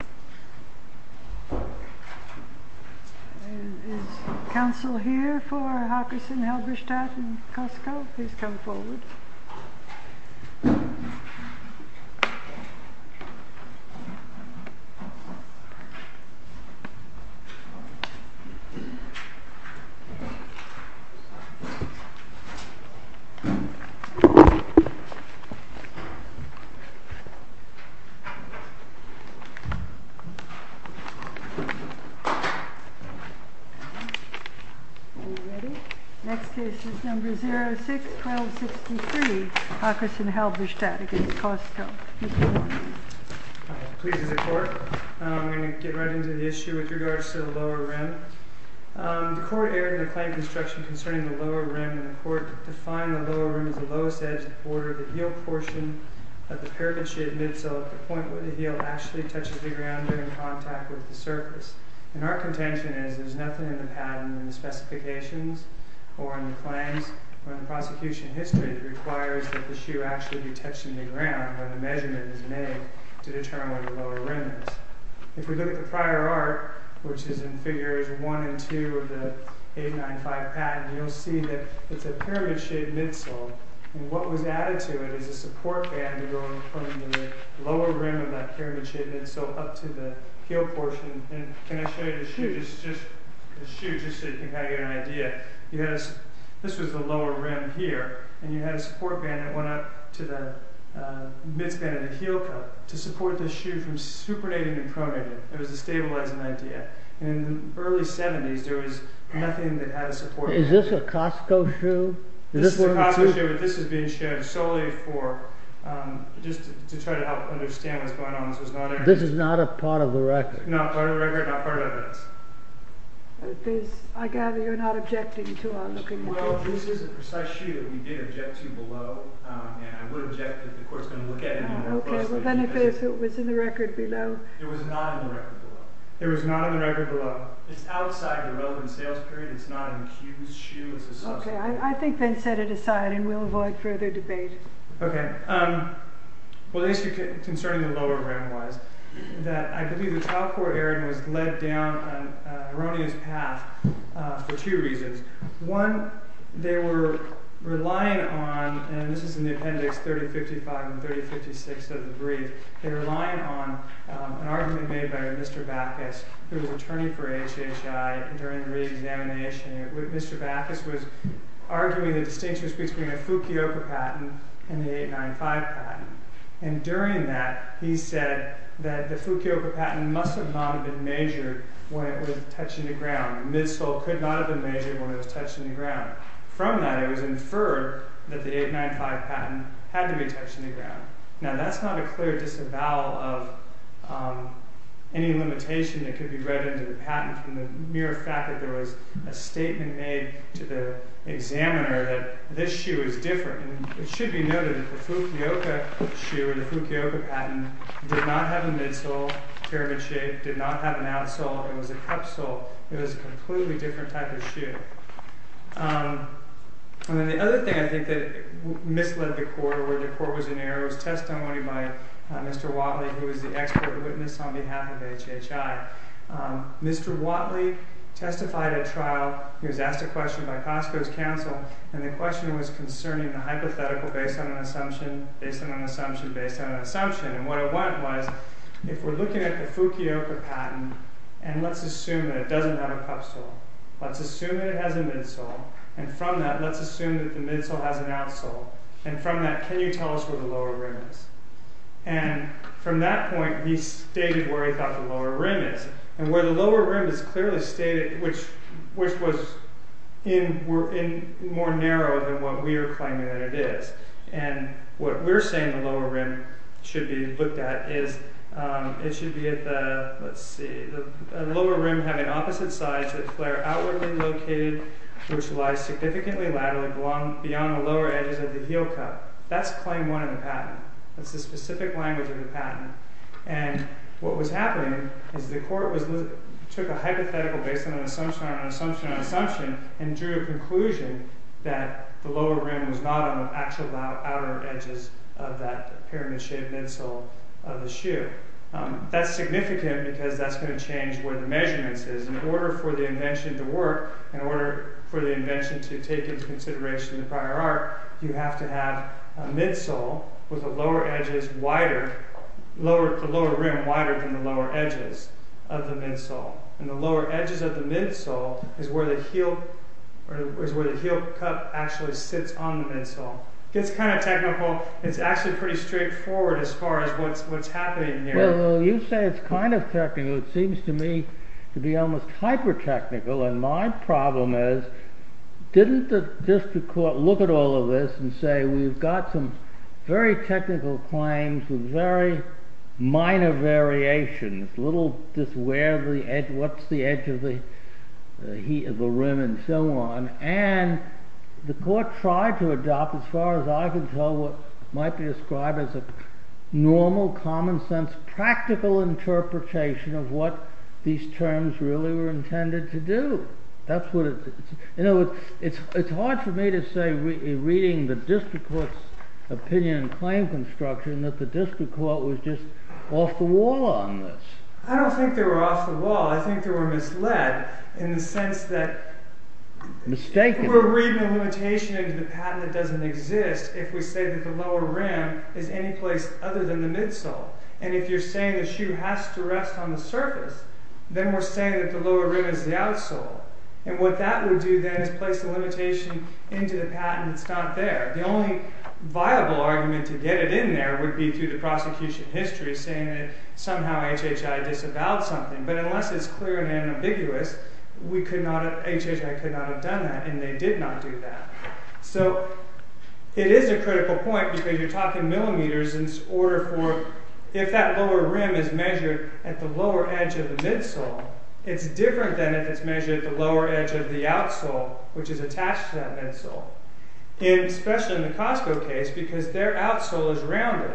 Is counsel here for Hockerson-Halberstadt v. Costco? Are you ready? Next case is number 06-1263, Hockerson-Halberstadt v. Costco. Mr. Warren. Please, Mr. Court. I'm going to get right into the issue with regards to the lower rim. The court erred in the claim construction concerning the lower rim, and the court defined the lower rim as the lowest edge of the border of the heel portion of the paraben-shaded midsole at the point where the heel actually touches the ground. And our contention is there's nothing in the patent, in the specifications, or in the claims, or in the prosecution history that requires that the shoe actually be touching the ground where the measurement is made to determine where the lower rim is. If we look at the prior art, which is in figures 1 and 2 of the 895 patent, you'll see that it's a paraben-shaded midsole, and what was added to it is a support band to go from the lower rim of that paraben-shaded midsole up to the heel portion. Can I show you the shoe just so you can get an idea? This was the lower rim here, and you had a support band that went up to the midspan of the heel part to support the shoe from supernating and pronating. It was a stabilizing idea. In the early 70s, there was nothing that had a support band. Is this a Costco shoe? This is a Costco shoe, but this is being shown solely to try to help understand what's going on. This is not a part of the record? Not part of the record, not part of evidence. I gather you're not objecting to our looking at this? Well, this is a precise shoe that we did object to below, and I would object if the court's going to look at it more closely. OK, well, then if it was in the record below? It was not in the record below. It was not in the record below? It's outside the relevant sales period. It's not an accused shoe as a substitute. OK, I think then set it aside, and we'll avoid further debate. OK, well, the issue concerning the lower rim was that I believe the child court error was led down an erroneous path for two reasons. One, they were relying on, and this is in the appendix 3055 and 3056 of the brief, they were relying on an argument made by Mr. Backus, who was attorney for HHI during the reexamination. Mr. Backus was arguing the distinction between a Fukioka patent and the 895 patent. And during that, he said that the Fukioka patent must have not been measured when it was touching the ground. The midsole could not have been measured when it was touching the ground. From that, it was inferred that the 895 patent had to be touching the ground. Now, that's not a clear disavowal of any limitation that could be read into the patent from the mere fact that there was a statement made to the examiner that this shoe is different. And it should be noted that the Fukioka shoe, or the Fukioka patent, did not have a midsole pyramid shape, did not have an outsole. It was a cup sole. It was a completely different type of shoe. And then the other thing, I think, that misled the court, or where the court was in error, was testimony by Mr. Watley, who was the expert witness on behalf of HHI. Mr. Watley testified at trial. He was asked a question by Costco's counsel, and the question was concerning the hypothetical based on an assumption, based on an assumption, based on an assumption. And what it was, if we're looking at the Fukioka patent, and let's assume that it doesn't have a cup sole. Let's assume that it has a midsole, and from that, let's assume that the midsole has an outsole. And from that, can you tell us where the lower rim is? And from that point, he stated where he thought the lower rim is. And where the lower rim is clearly stated, which was more narrow than what we were claiming that it is. And what we're saying the lower rim should be looked at is, it should be at the, let's see, the lower rim having opposite sides to the flare outwardly located, which lies significantly laterally beyond the lower edges of the heel cup. That's claim one of the patent. That's the specific language of the patent. And what was happening is the court took a hypothetical based on an assumption, on an assumption, on an assumption, and drew a conclusion that the lower rim was not on the actual outer edges of that pyramid-shaped midsole of the shoe. That's significant because that's going to change where the measurements is. In order for the invention to work, in order for the invention to take into consideration the prior art, you have to have a midsole with the lower rim wider than the lower edges of the midsole. And the lower edges of the midsole is where the heel cup actually sits on the midsole. It's kind of technical. It's actually pretty straightforward as far as what's happening here. Well, you say it's kind of technical. It seems to me to be almost hyper-technical. And my problem is, didn't the district court look at all of this and say, we've got some very technical claims with very minor variations, little just where the edge, what's the edge of the rim, and so on. And the court tried to adopt, as far as I can tell, what might be described as a normal, common sense, practical interpretation of what these terms really were intended to do. In other words, it's hard for me to say, reading the district court's opinion and claim construction, that the district court was just off the wall on this. I don't think they were off the wall. I think they were misled in the sense that we're reading a limitation into the patent that doesn't exist if we say that the lower rim is any place other than the midsole. And if you're saying the shoe has to rest on the surface, then we're saying that the lower rim is the outsole. And what that would do, then, is place a limitation into the patent that's not there. The only viable argument to get it in there would be through the prosecution history, saying that somehow HHI disavowed something. But unless it's clear and unambiguous, HHI could not have done that, and they did not do that. So it is a critical point, because you're talking millimeters in order for, if that lower rim is measured at the lower edge of the midsole, it's different than if it's measured at the lower edge of the outsole, which is attached to that midsole. Especially in the Costco case, because their outsole is rounded.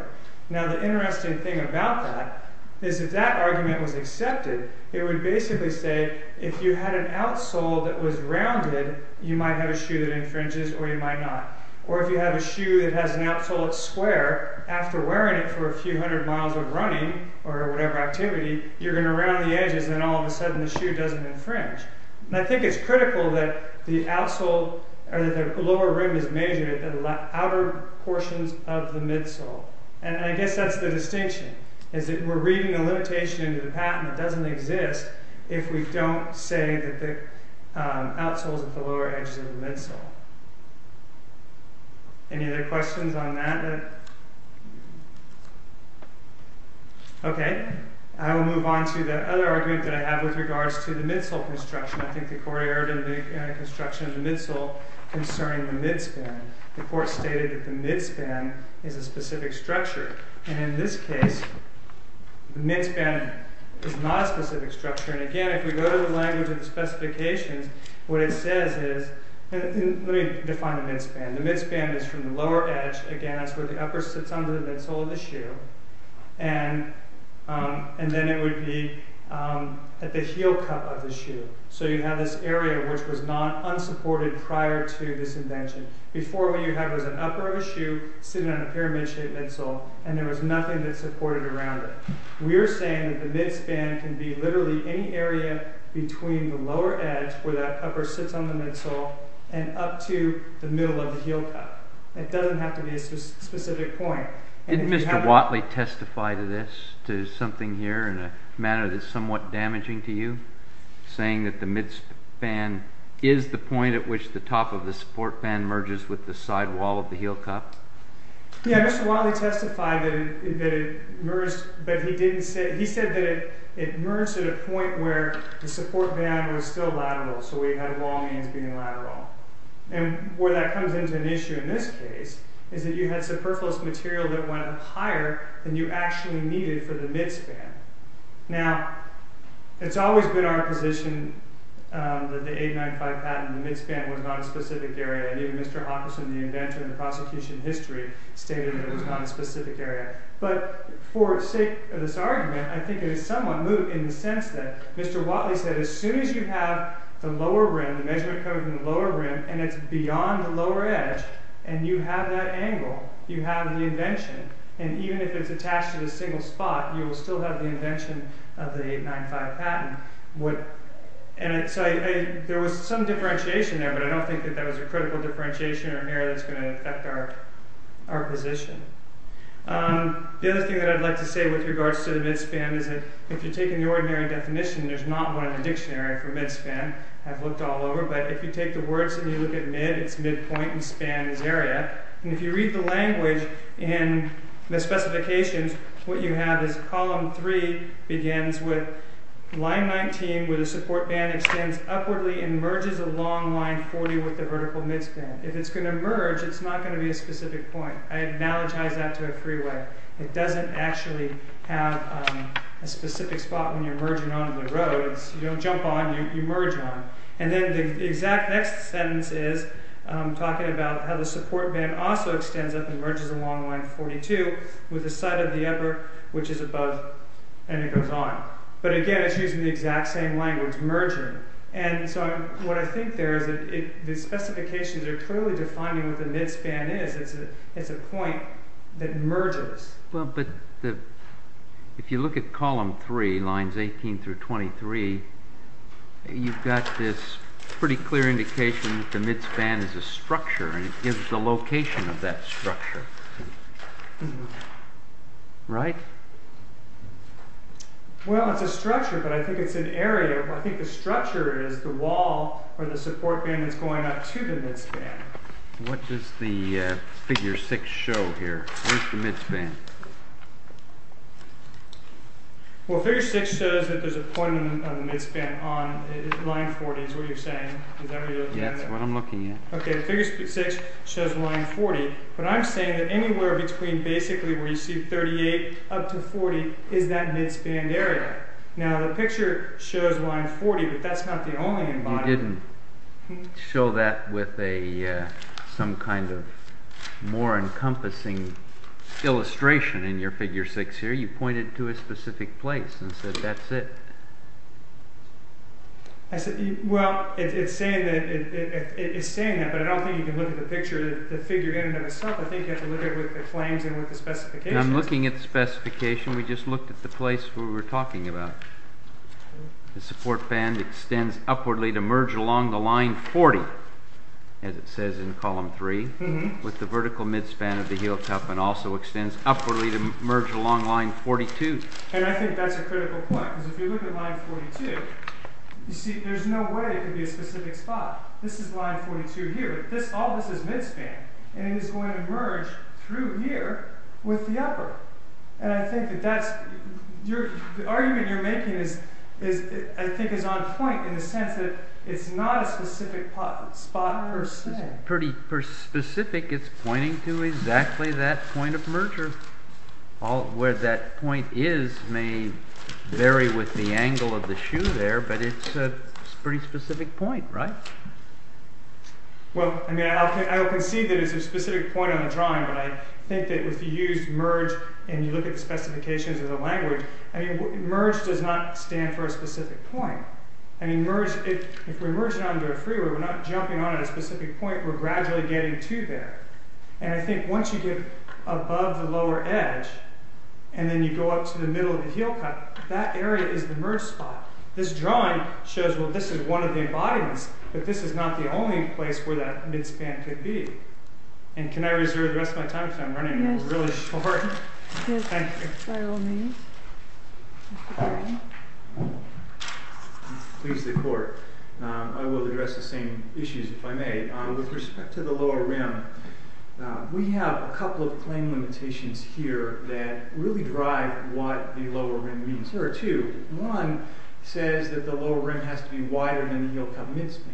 Now, the interesting thing about that is if that argument was accepted, it would basically say, if you had an outsole that was rounded, you might have a shoe that infringes, or you might not. Or if you have a shoe that has an outsole that's square, after wearing it for a few hundred miles of running, or whatever activity, you're going to round the edges, and then all of a sudden the shoe doesn't infringe. And I think it's critical that the lower rim is measured at the outer portions of the midsole. And I guess that's the distinction, is that we're reading a limitation into the patent that doesn't exist if we don't say that the outsole is at the lower edges of the midsole. Any other questions on that? OK. I will move on to the other argument that I have with regards to the midsole construction. I think the court erred in the construction of the midsole concerning the midspan. The court stated that the midspan is a specific structure. And in this case, the midspan is not a specific structure. And again, if we go to the language of the specifications, what it says is, let me define the midspan. The midspan is from the lower edge, again, that's where the upper sits on the midsole of the shoe. And then it would be at the heel cup of the shoe. So you have this area which was not unsupported prior to this invention. Before, what you had was an upper of a shoe sitting on a pyramid-shaped midsole, and there was nothing that supported around it. We are saying that the midspan can be literally any area between the lower edge, where that upper sits on the midsole, and up to the middle of the heel cup. It doesn't have to be a specific point. Did Mr. Watley testify to this, to something here in a manner that is somewhat damaging to you? Saying that the midspan is the point at which the top of the support band merges with the sidewall of the heel cup? Yeah, Mr. Watley testified that it merged, but he said that it merged at a point where the support band was still lateral, so we had wall means being lateral. And where that comes into an issue in this case is that you had superfluous material that went higher than you actually needed for the midspan. Now, it's always been our position that the 895 patent, the midspan, was not a specific area. Even Mr. Hawkinson, the inventor in the prosecution history, stated that it was not a specific area. But for the sake of this argument, I think it is somewhat moot in the sense that Mr. Watley said, as soon as you have the lower rim, the measurement code in the lower rim, and it's beyond the lower edge, and you have that angle, you have the invention. And even if it's attached to the single spot, you will still have the invention of the 895 patent. There was some differentiation there, but I don't think that that was a critical differentiation or area that's going to affect our position. The other thing that I'd like to say with regards to the midspan is that if you're taking the ordinary definition, there's not one in the dictionary for midspan. I've looked all over, but if you take the words and you look at mid, it's midpoint, and span is area. And if you read the language in the specifications, what you have is column 3 begins with line 19, where the support band extends upwardly and merges along line 40 with the vertical midspan. If it's going to merge, it's not going to be a specific point. I analogize that to a freeway. It doesn't actually have a specific spot when you're merging onto the road. You don't jump on, you merge on. And then the exact next sentence is talking about how the support band also extends up and merges along line 42 with the side of the upper, which is above, and it goes on. But again, it's using the exact same language, merging. And so what I think there is that the specifications are clearly defining what the midspan is. It's a point that merges. But if you look at column 3, lines 18 through 23, you've got this pretty clear indication that the midspan is a structure, and it gives the location of that structure. Right? Well, it's a structure, but I think it's an area. I think the structure is the wall where the support band is going up to the midspan. What does the figure 6 show here? Where's the midspan? Well, figure 6 shows that there's a point on the midspan on line 40 is what you're saying. Is that what you're looking at? Yes, that's what I'm looking at. Okay, figure 6 shows line 40, but I'm saying that anywhere between basically where you see 38 up to 40 is that midspan area. Now, the picture shows line 40, but that's not the only embodiment. I didn't show that with some kind of more encompassing illustration in your figure 6 here. You pointed to a specific place and said that's it. Well, it's saying that, but I don't think you can look at the picture, the figure in and of itself. I think you have to look at it with the flames and with the specifications. I'm looking at the specification. We just looked at the place we were talking about. The support band extends upwardly to merge along the line 40, as it says in column 3, with the vertical midspan of the heel cuff and also extends upwardly to merge along line 42. I think that's a critical point because if you look at line 42, you see there's no way it could be a specific spot. This is line 42 here. All this is midspan, and it is going to merge through here with the upper. I think the argument you're making is on point in the sense that it's not a specific spot per se. It's pretty specific. It's pointing to exactly that point of merger. Where that point is may vary with the angle of the shoe there, but it's a pretty specific point, right? I'll concede that it's a specific point on the drawing, but I think that if you use merge and you look at the specifications of the language, merge does not stand for a specific point. If we merge it onto a freeway, we're not jumping onto a specific point. We're gradually getting to there. I think once you get above the lower edge and then you go up to the middle of the heel cuff, that area is the merge spot. This drawing shows that this is one of the embodiments, but this is not the only place where that midspan could be. Can I reserve the rest of my time if I'm running really short? Yes. Thank you. I will address the same issues if I may. With respect to the lower rim, we have a couple of claim limitations here that really drive what the lower rim means. There are two. One says that the lower rim has to be wider than the heel cuff midspan.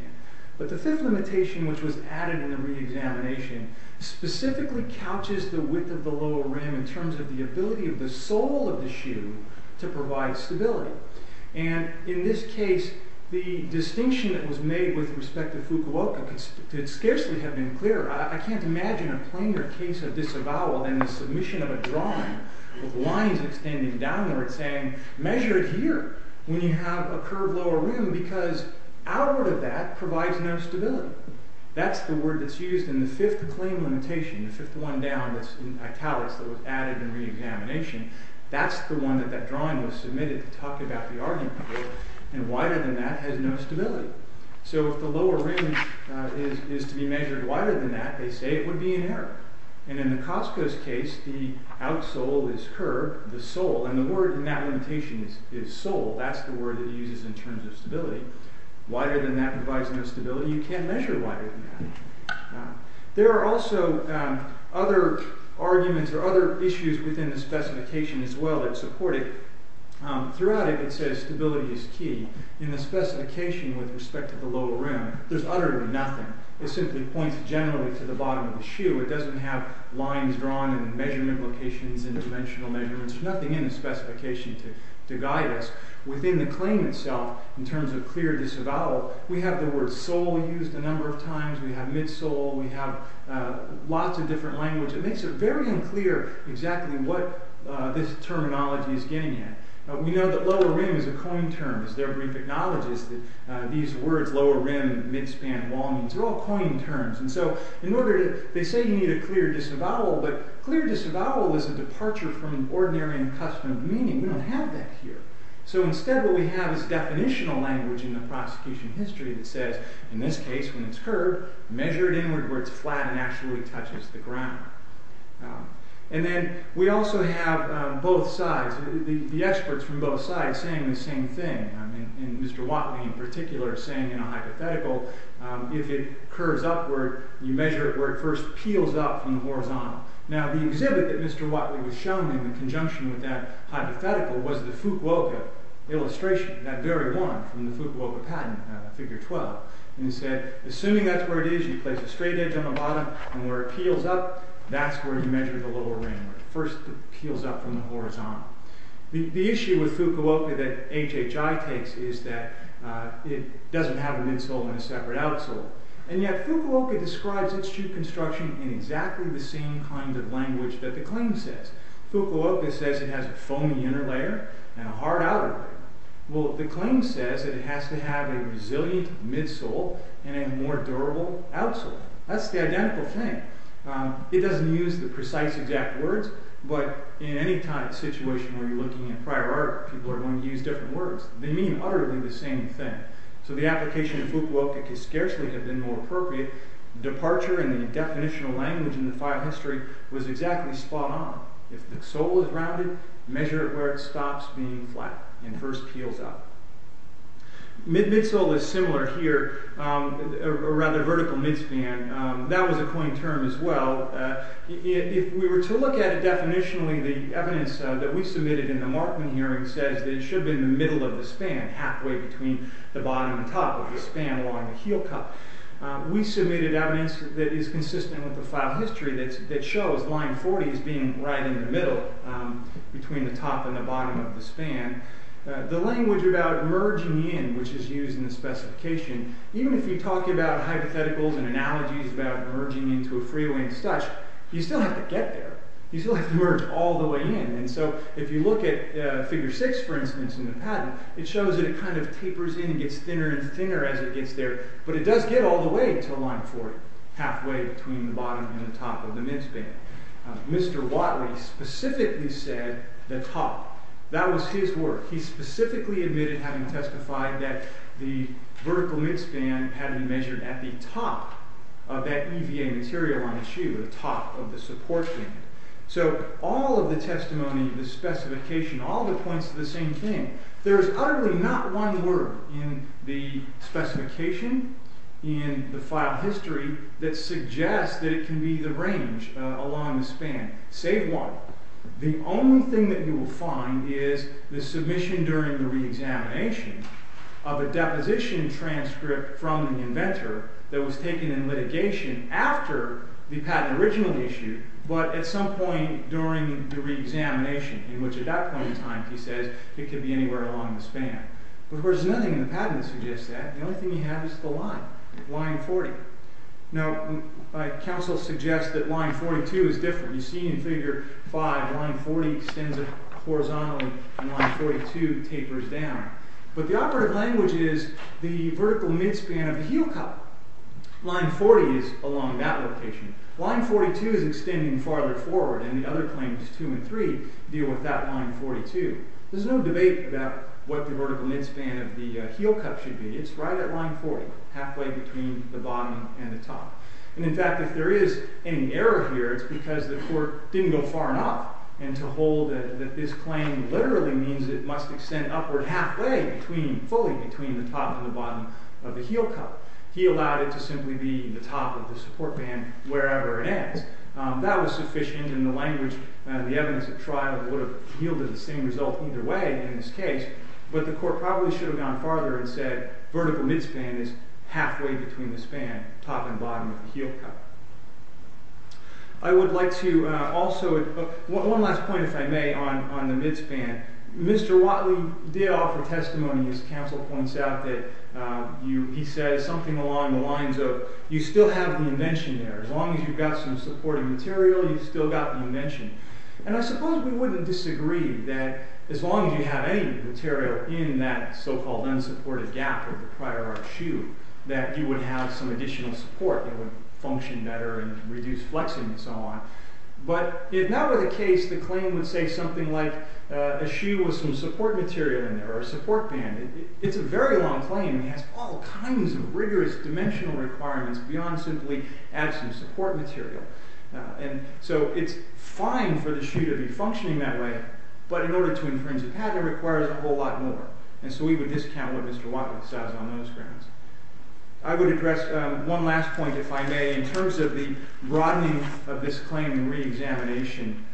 But the fifth limitation, which was added in the re-examination, specifically couches the width of the lower rim in terms of the ability of the sole of the shoe to provide stability. In this case, the distinction that was made with respect to Fukuoka could scarcely have been clearer. I can't imagine a plainer case of disavowal than the submission of a drawing with lines extending downward saying, measure it here when you have a curved lower rim because outward of that provides no stability. That's the word that's used in the fifth claim limitation, the fifth one down that's in italics that was added in re-examination. That's the one that that drawing was submitted to talk about the argument here. And wider than that has no stability. So if the lower rim is to be measured wider than that, they say it would be an error. And in the Costco's case, the outsole is curved, the sole, and the word in that limitation is sole. That's the word that he uses in terms of stability. Wider than that provides no stability. You can't measure wider than that. There are also other arguments or other issues within the specification as well that support it. Throughout it, it says stability is key. In the specification with respect to the lower rim, there's utterly nothing. It simply points generally to the bottom of the shoe. It doesn't have lines drawn and measurement locations and dimensional measurements. There's nothing in the specification to guide us. Within the claim itself, in terms of clear disavowal, we have the word sole used a number of times. We have midsole. We have lots of different language. It makes it very unclear exactly what this terminology is getting at. We know that lower rim is a coined term. It's their brief acknowledges that these words, lower rim, midspan, long, they're all coined terms. And so in order to, they say you need a clear disavowal, but clear disavowal is a departure from ordinary and customary meaning. We don't have that here. So instead what we have is definitional language in the prosecution history that says, in this case when it's curved, measure it inward where it's flat and actually touches the ground. And then we also have both sides, the experts from both sides saying the same thing. And Mr. Watley in particular is saying in a hypothetical, if it curves upward, you measure it where it first peels up from the horizontal. Now the exhibit that Mr. Watley was shown in conjunction with that hypothetical was the Fukuoka illustration, that very one from the Fukuoka patent, figure 12. And he said, assuming that's where it is, you place a straight edge on the bottom, and where it peels up, that's where you measure the lower rim, where it first peels up from the horizontal. The issue with Fukuoka that HHI takes is that it doesn't have a midsole and a separate outsole. And yet Fukuoka describes its construction in exactly the same kind of language that the claim says. Fukuoka says it has a foamy inner layer and a hard outer layer. Well, the claim says that it has to have a resilient midsole and a more durable outsole. That's the identical thing. It doesn't use the precise exact words, but in any kind of situation where you're looking at prior art, people are going to use different words. They mean utterly the same thing. So the application of Fukuoka can scarcely have been more appropriate. Departure in the definitional language in the file history was exactly spot on. If the sole is rounded, measure it where it stops being flat and first peels up. Midsole is similar here, or rather vertical midspan. That was a coined term as well. If we were to look at it definitionally, the evidence that we submitted in the Markman hearing says that it should be in the middle of the span, halfway between the bottom and top of the span along the heel cup. We submitted evidence that is consistent with the file history that shows line 40 as being right in the middle, between the top and the bottom of the span. The language about merging in, which is used in the specification, even if you talk about hypotheticals and analogies about merging into a free-wing studge, you still have to get there. You still have to merge all the way in. So if you look at figure 6, for instance, in the patent, it shows that it kind of tapers in and gets thinner and thinner as it gets there. But it does get all the way to line 40, halfway between the bottom and the top of the midspan. Mr. Watley specifically said the top. That was his work. He specifically admitted having testified that the vertical midspan had been measured at the top of that EVA material on the shoe, the top of the support band. So all of the testimony, the specification, all of it points to the same thing. There is utterly not one word in the specification, in the file history, that suggests that it can be the range along the span, save one. The only thing that you will find is the submission during the reexamination of a deposition transcript from the inventor that was taken in litigation after the patent originally issued, but at some point during the reexamination, in which at that point in time he says it could be anywhere along the span. Of course, there is nothing in the patent that suggests that. The only thing you have is the line, line 40. Now, counsel suggests that line 42 is different. You see in figure 5, line 40 extends horizontally and line 42 tapers down. But the operative language is the vertical midspan of the heel cup. Line 40 is along that location. Line 42 is extending farther forward, and the other claims, 2 and 3, deal with that line 42. There's no debate about what the vertical midspan of the heel cup should be. It's right at line 40, halfway between the bottom and the top. And in fact, if there is any error here, it's because the court didn't go far enough, and to hold that this claim literally means it must extend upward halfway, fully between the top and the bottom of the heel cup. He allowed it to simply be the top of the support band wherever it ends. That was sufficient in the language. The evidence at trial would have yielded the same result either way in this case, but the court probably should have gone farther and said vertical midspan is halfway between the span, top and bottom of the heel cup. One last point, if I may, on the midspan. Mr. Watley did offer testimony, as counsel points out, that he said something along the lines of, you still have the invention there. As long as you've got some supporting material, you've still got the invention. And I suppose we wouldn't disagree that as long as you have any material in that so-called unsupported gap of the prior arch shoe, that you would have some additional support that would function better and reduce flexing and so on. But if that were the case, the claim would say something like a shoe with some support material in there, or a support band. It's a very long claim. It has all kinds of rigorous dimensional requirements beyond simply adding some support material. And so it's fine for the shoe to be functioning that way, but in order to infringe a patent, it requires a whole lot more. And so we would discount what Mr. Watley says on those grounds. I would address one last point, if I may, in terms of the broadening of this claim in reexamination.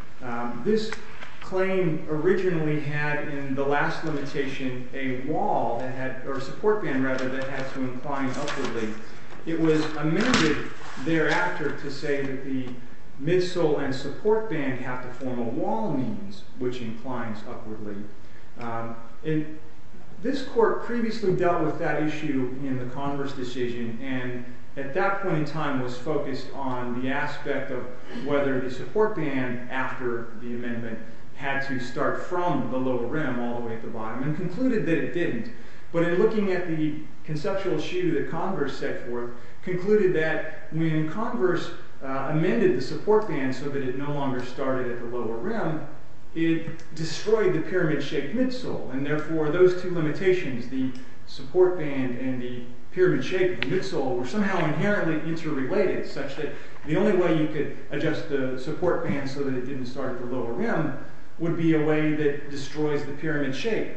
This claim originally had in the last limitation a wall, or a support band, rather, that had to incline upwardly. It was amended thereafter to say that the midsole and support band have to form a wall means, which inclines upwardly. This court previously dealt with that issue in the Converse decision, and at that point in time was focused on the aspect of whether the support band, after the amendment, had to start from the lower rim all the way to the bottom, and concluded that it didn't. But in looking at the conceptual issue that Converse set forth, concluded that when Converse amended the support band so that it no longer started at the lower rim, it destroyed the pyramid-shaped midsole. And therefore, those two limitations, the support band and the pyramid-shaped midsole, were somehow inherently interrelated, such that the only way you could adjust the support band so that it didn't start at the lower rim would be a way that destroys the pyramid shape.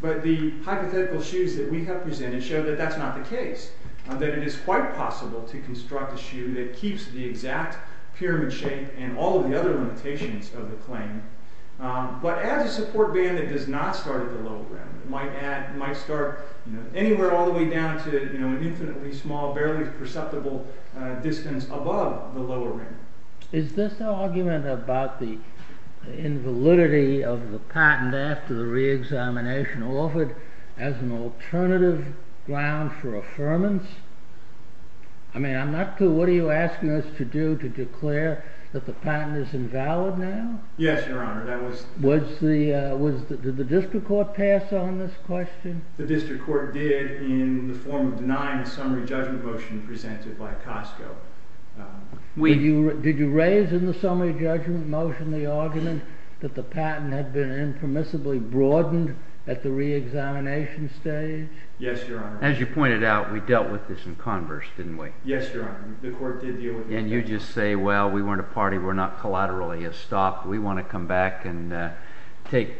But the hypothetical shoes that we have presented show that that's not the case, that it is quite possible to construct a shoe that keeps the exact pyramid shape and all of the other limitations of the claim. But as a support band that does not start at the lower rim, it might start anywhere all the way down to an infinitely small, barely perceptible distance above the lower rim. Is this argument about the invalidity of the patent after the re-examination offered as an alternative ground for affirmance? I mean, I'm not clear, what are you asking us to do to declare that the patent is invalid now? Yes, Your Honor, that was... Did the district court pass on this question? The district court did in the form of denying a summary judgment motion presented by Costco. Did you raise in the summary judgment motion the argument that the patent had been impermissibly broadened at the re-examination stage? Yes, Your Honor. As you pointed out, we dealt with this in converse, didn't we? Yes, Your Honor, the court did deal with this. And you just say, well, we weren't a party, we're not collaterally a stock, we want to come back and take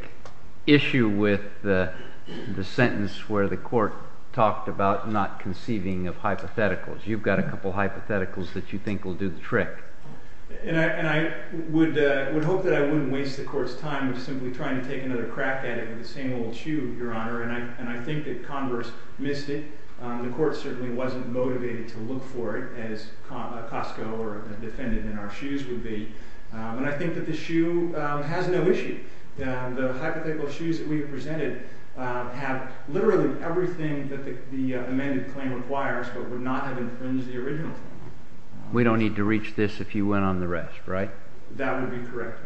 issue with the sentence where the court talked about not conceiving of hypotheticals. You've got a couple of hypotheticals that you think will do the trick. And I would hope that I wouldn't waste the court's time simply trying to take another crack at it with the same old shoe, Your Honor, and I think that converse missed it. The court certainly wasn't motivated to look for it as Costco or a defendant in our shoes would be. And I think that the shoe has no issue. The hypothetical shoes that we presented have literally everything that the amended claim requires but would not have infringed the original claim. We don't need to reach this if you went on the rest, right? That would be correct,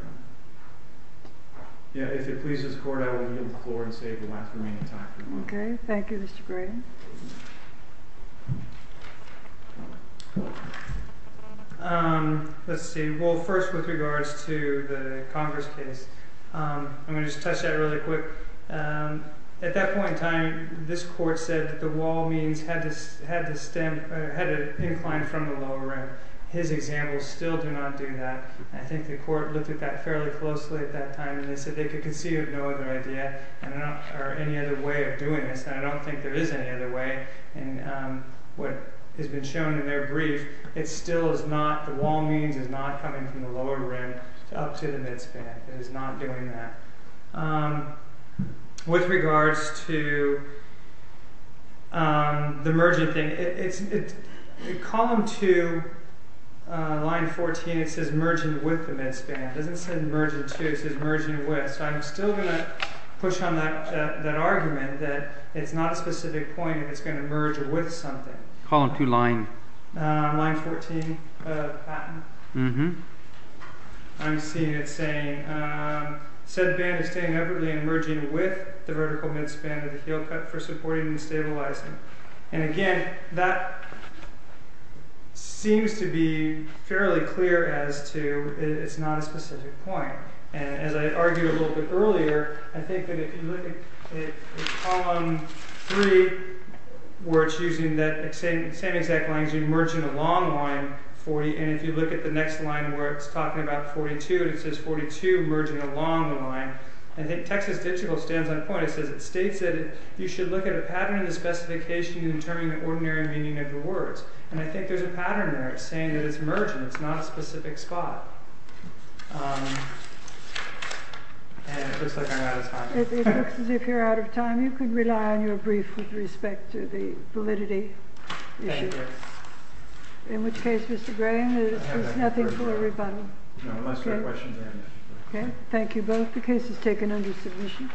Your Honor. If it pleases the court, I will yield the floor and save the last remaining time for the motion. Okay, thank you, Mr. Gray. Let's see. Well, first with regards to the Congress case, I'm going to just touch that really quick. At that point in time, this court said that the wall means had to incline from the lower rim. His examples still do not do that. I think the court looked at that fairly closely at that time and they said they could conceive of no other idea and I don't think there is any other way of doing this. And what has been shown in their brief, the wall means is not coming from the lower rim up to the mid-span. It is not doing that. With regards to the merging thing, column 2, line 14, it says merging with the mid-span. It doesn't say merging to, it says merging with. So I'm still going to push on that argument that it's not a specific point and it's going to merge with something. Column 2, line? Line 14, Patton. Mm-hmm. I'm seeing it saying, said band is inevitably merging with the vertical mid-span of the heel cut for supporting and stabilizing. And again, that seems to be fairly clear as to it's not a specific point. And as I argued a little bit earlier, I think that if you look at column 3, where it's using that same exact language, merging along line 40, and if you look at the next line where it's talking about 42, it says 42 merging along the line. I think Texas Digital stands on point. It states that you should look at a pattern in the specification to determine the ordinary meaning of the words. And I think there's a pattern there. It's saying that it's merging. It's not a specific spot. And it looks like I'm out of time. It looks as if you're out of time. You can rely on your brief with respect to the validity issue. Thank you. In which case, Mr. Graham, there's nothing for a rebuttal. No, unless you have questions. Okay, thank you both. The case is taken under submission.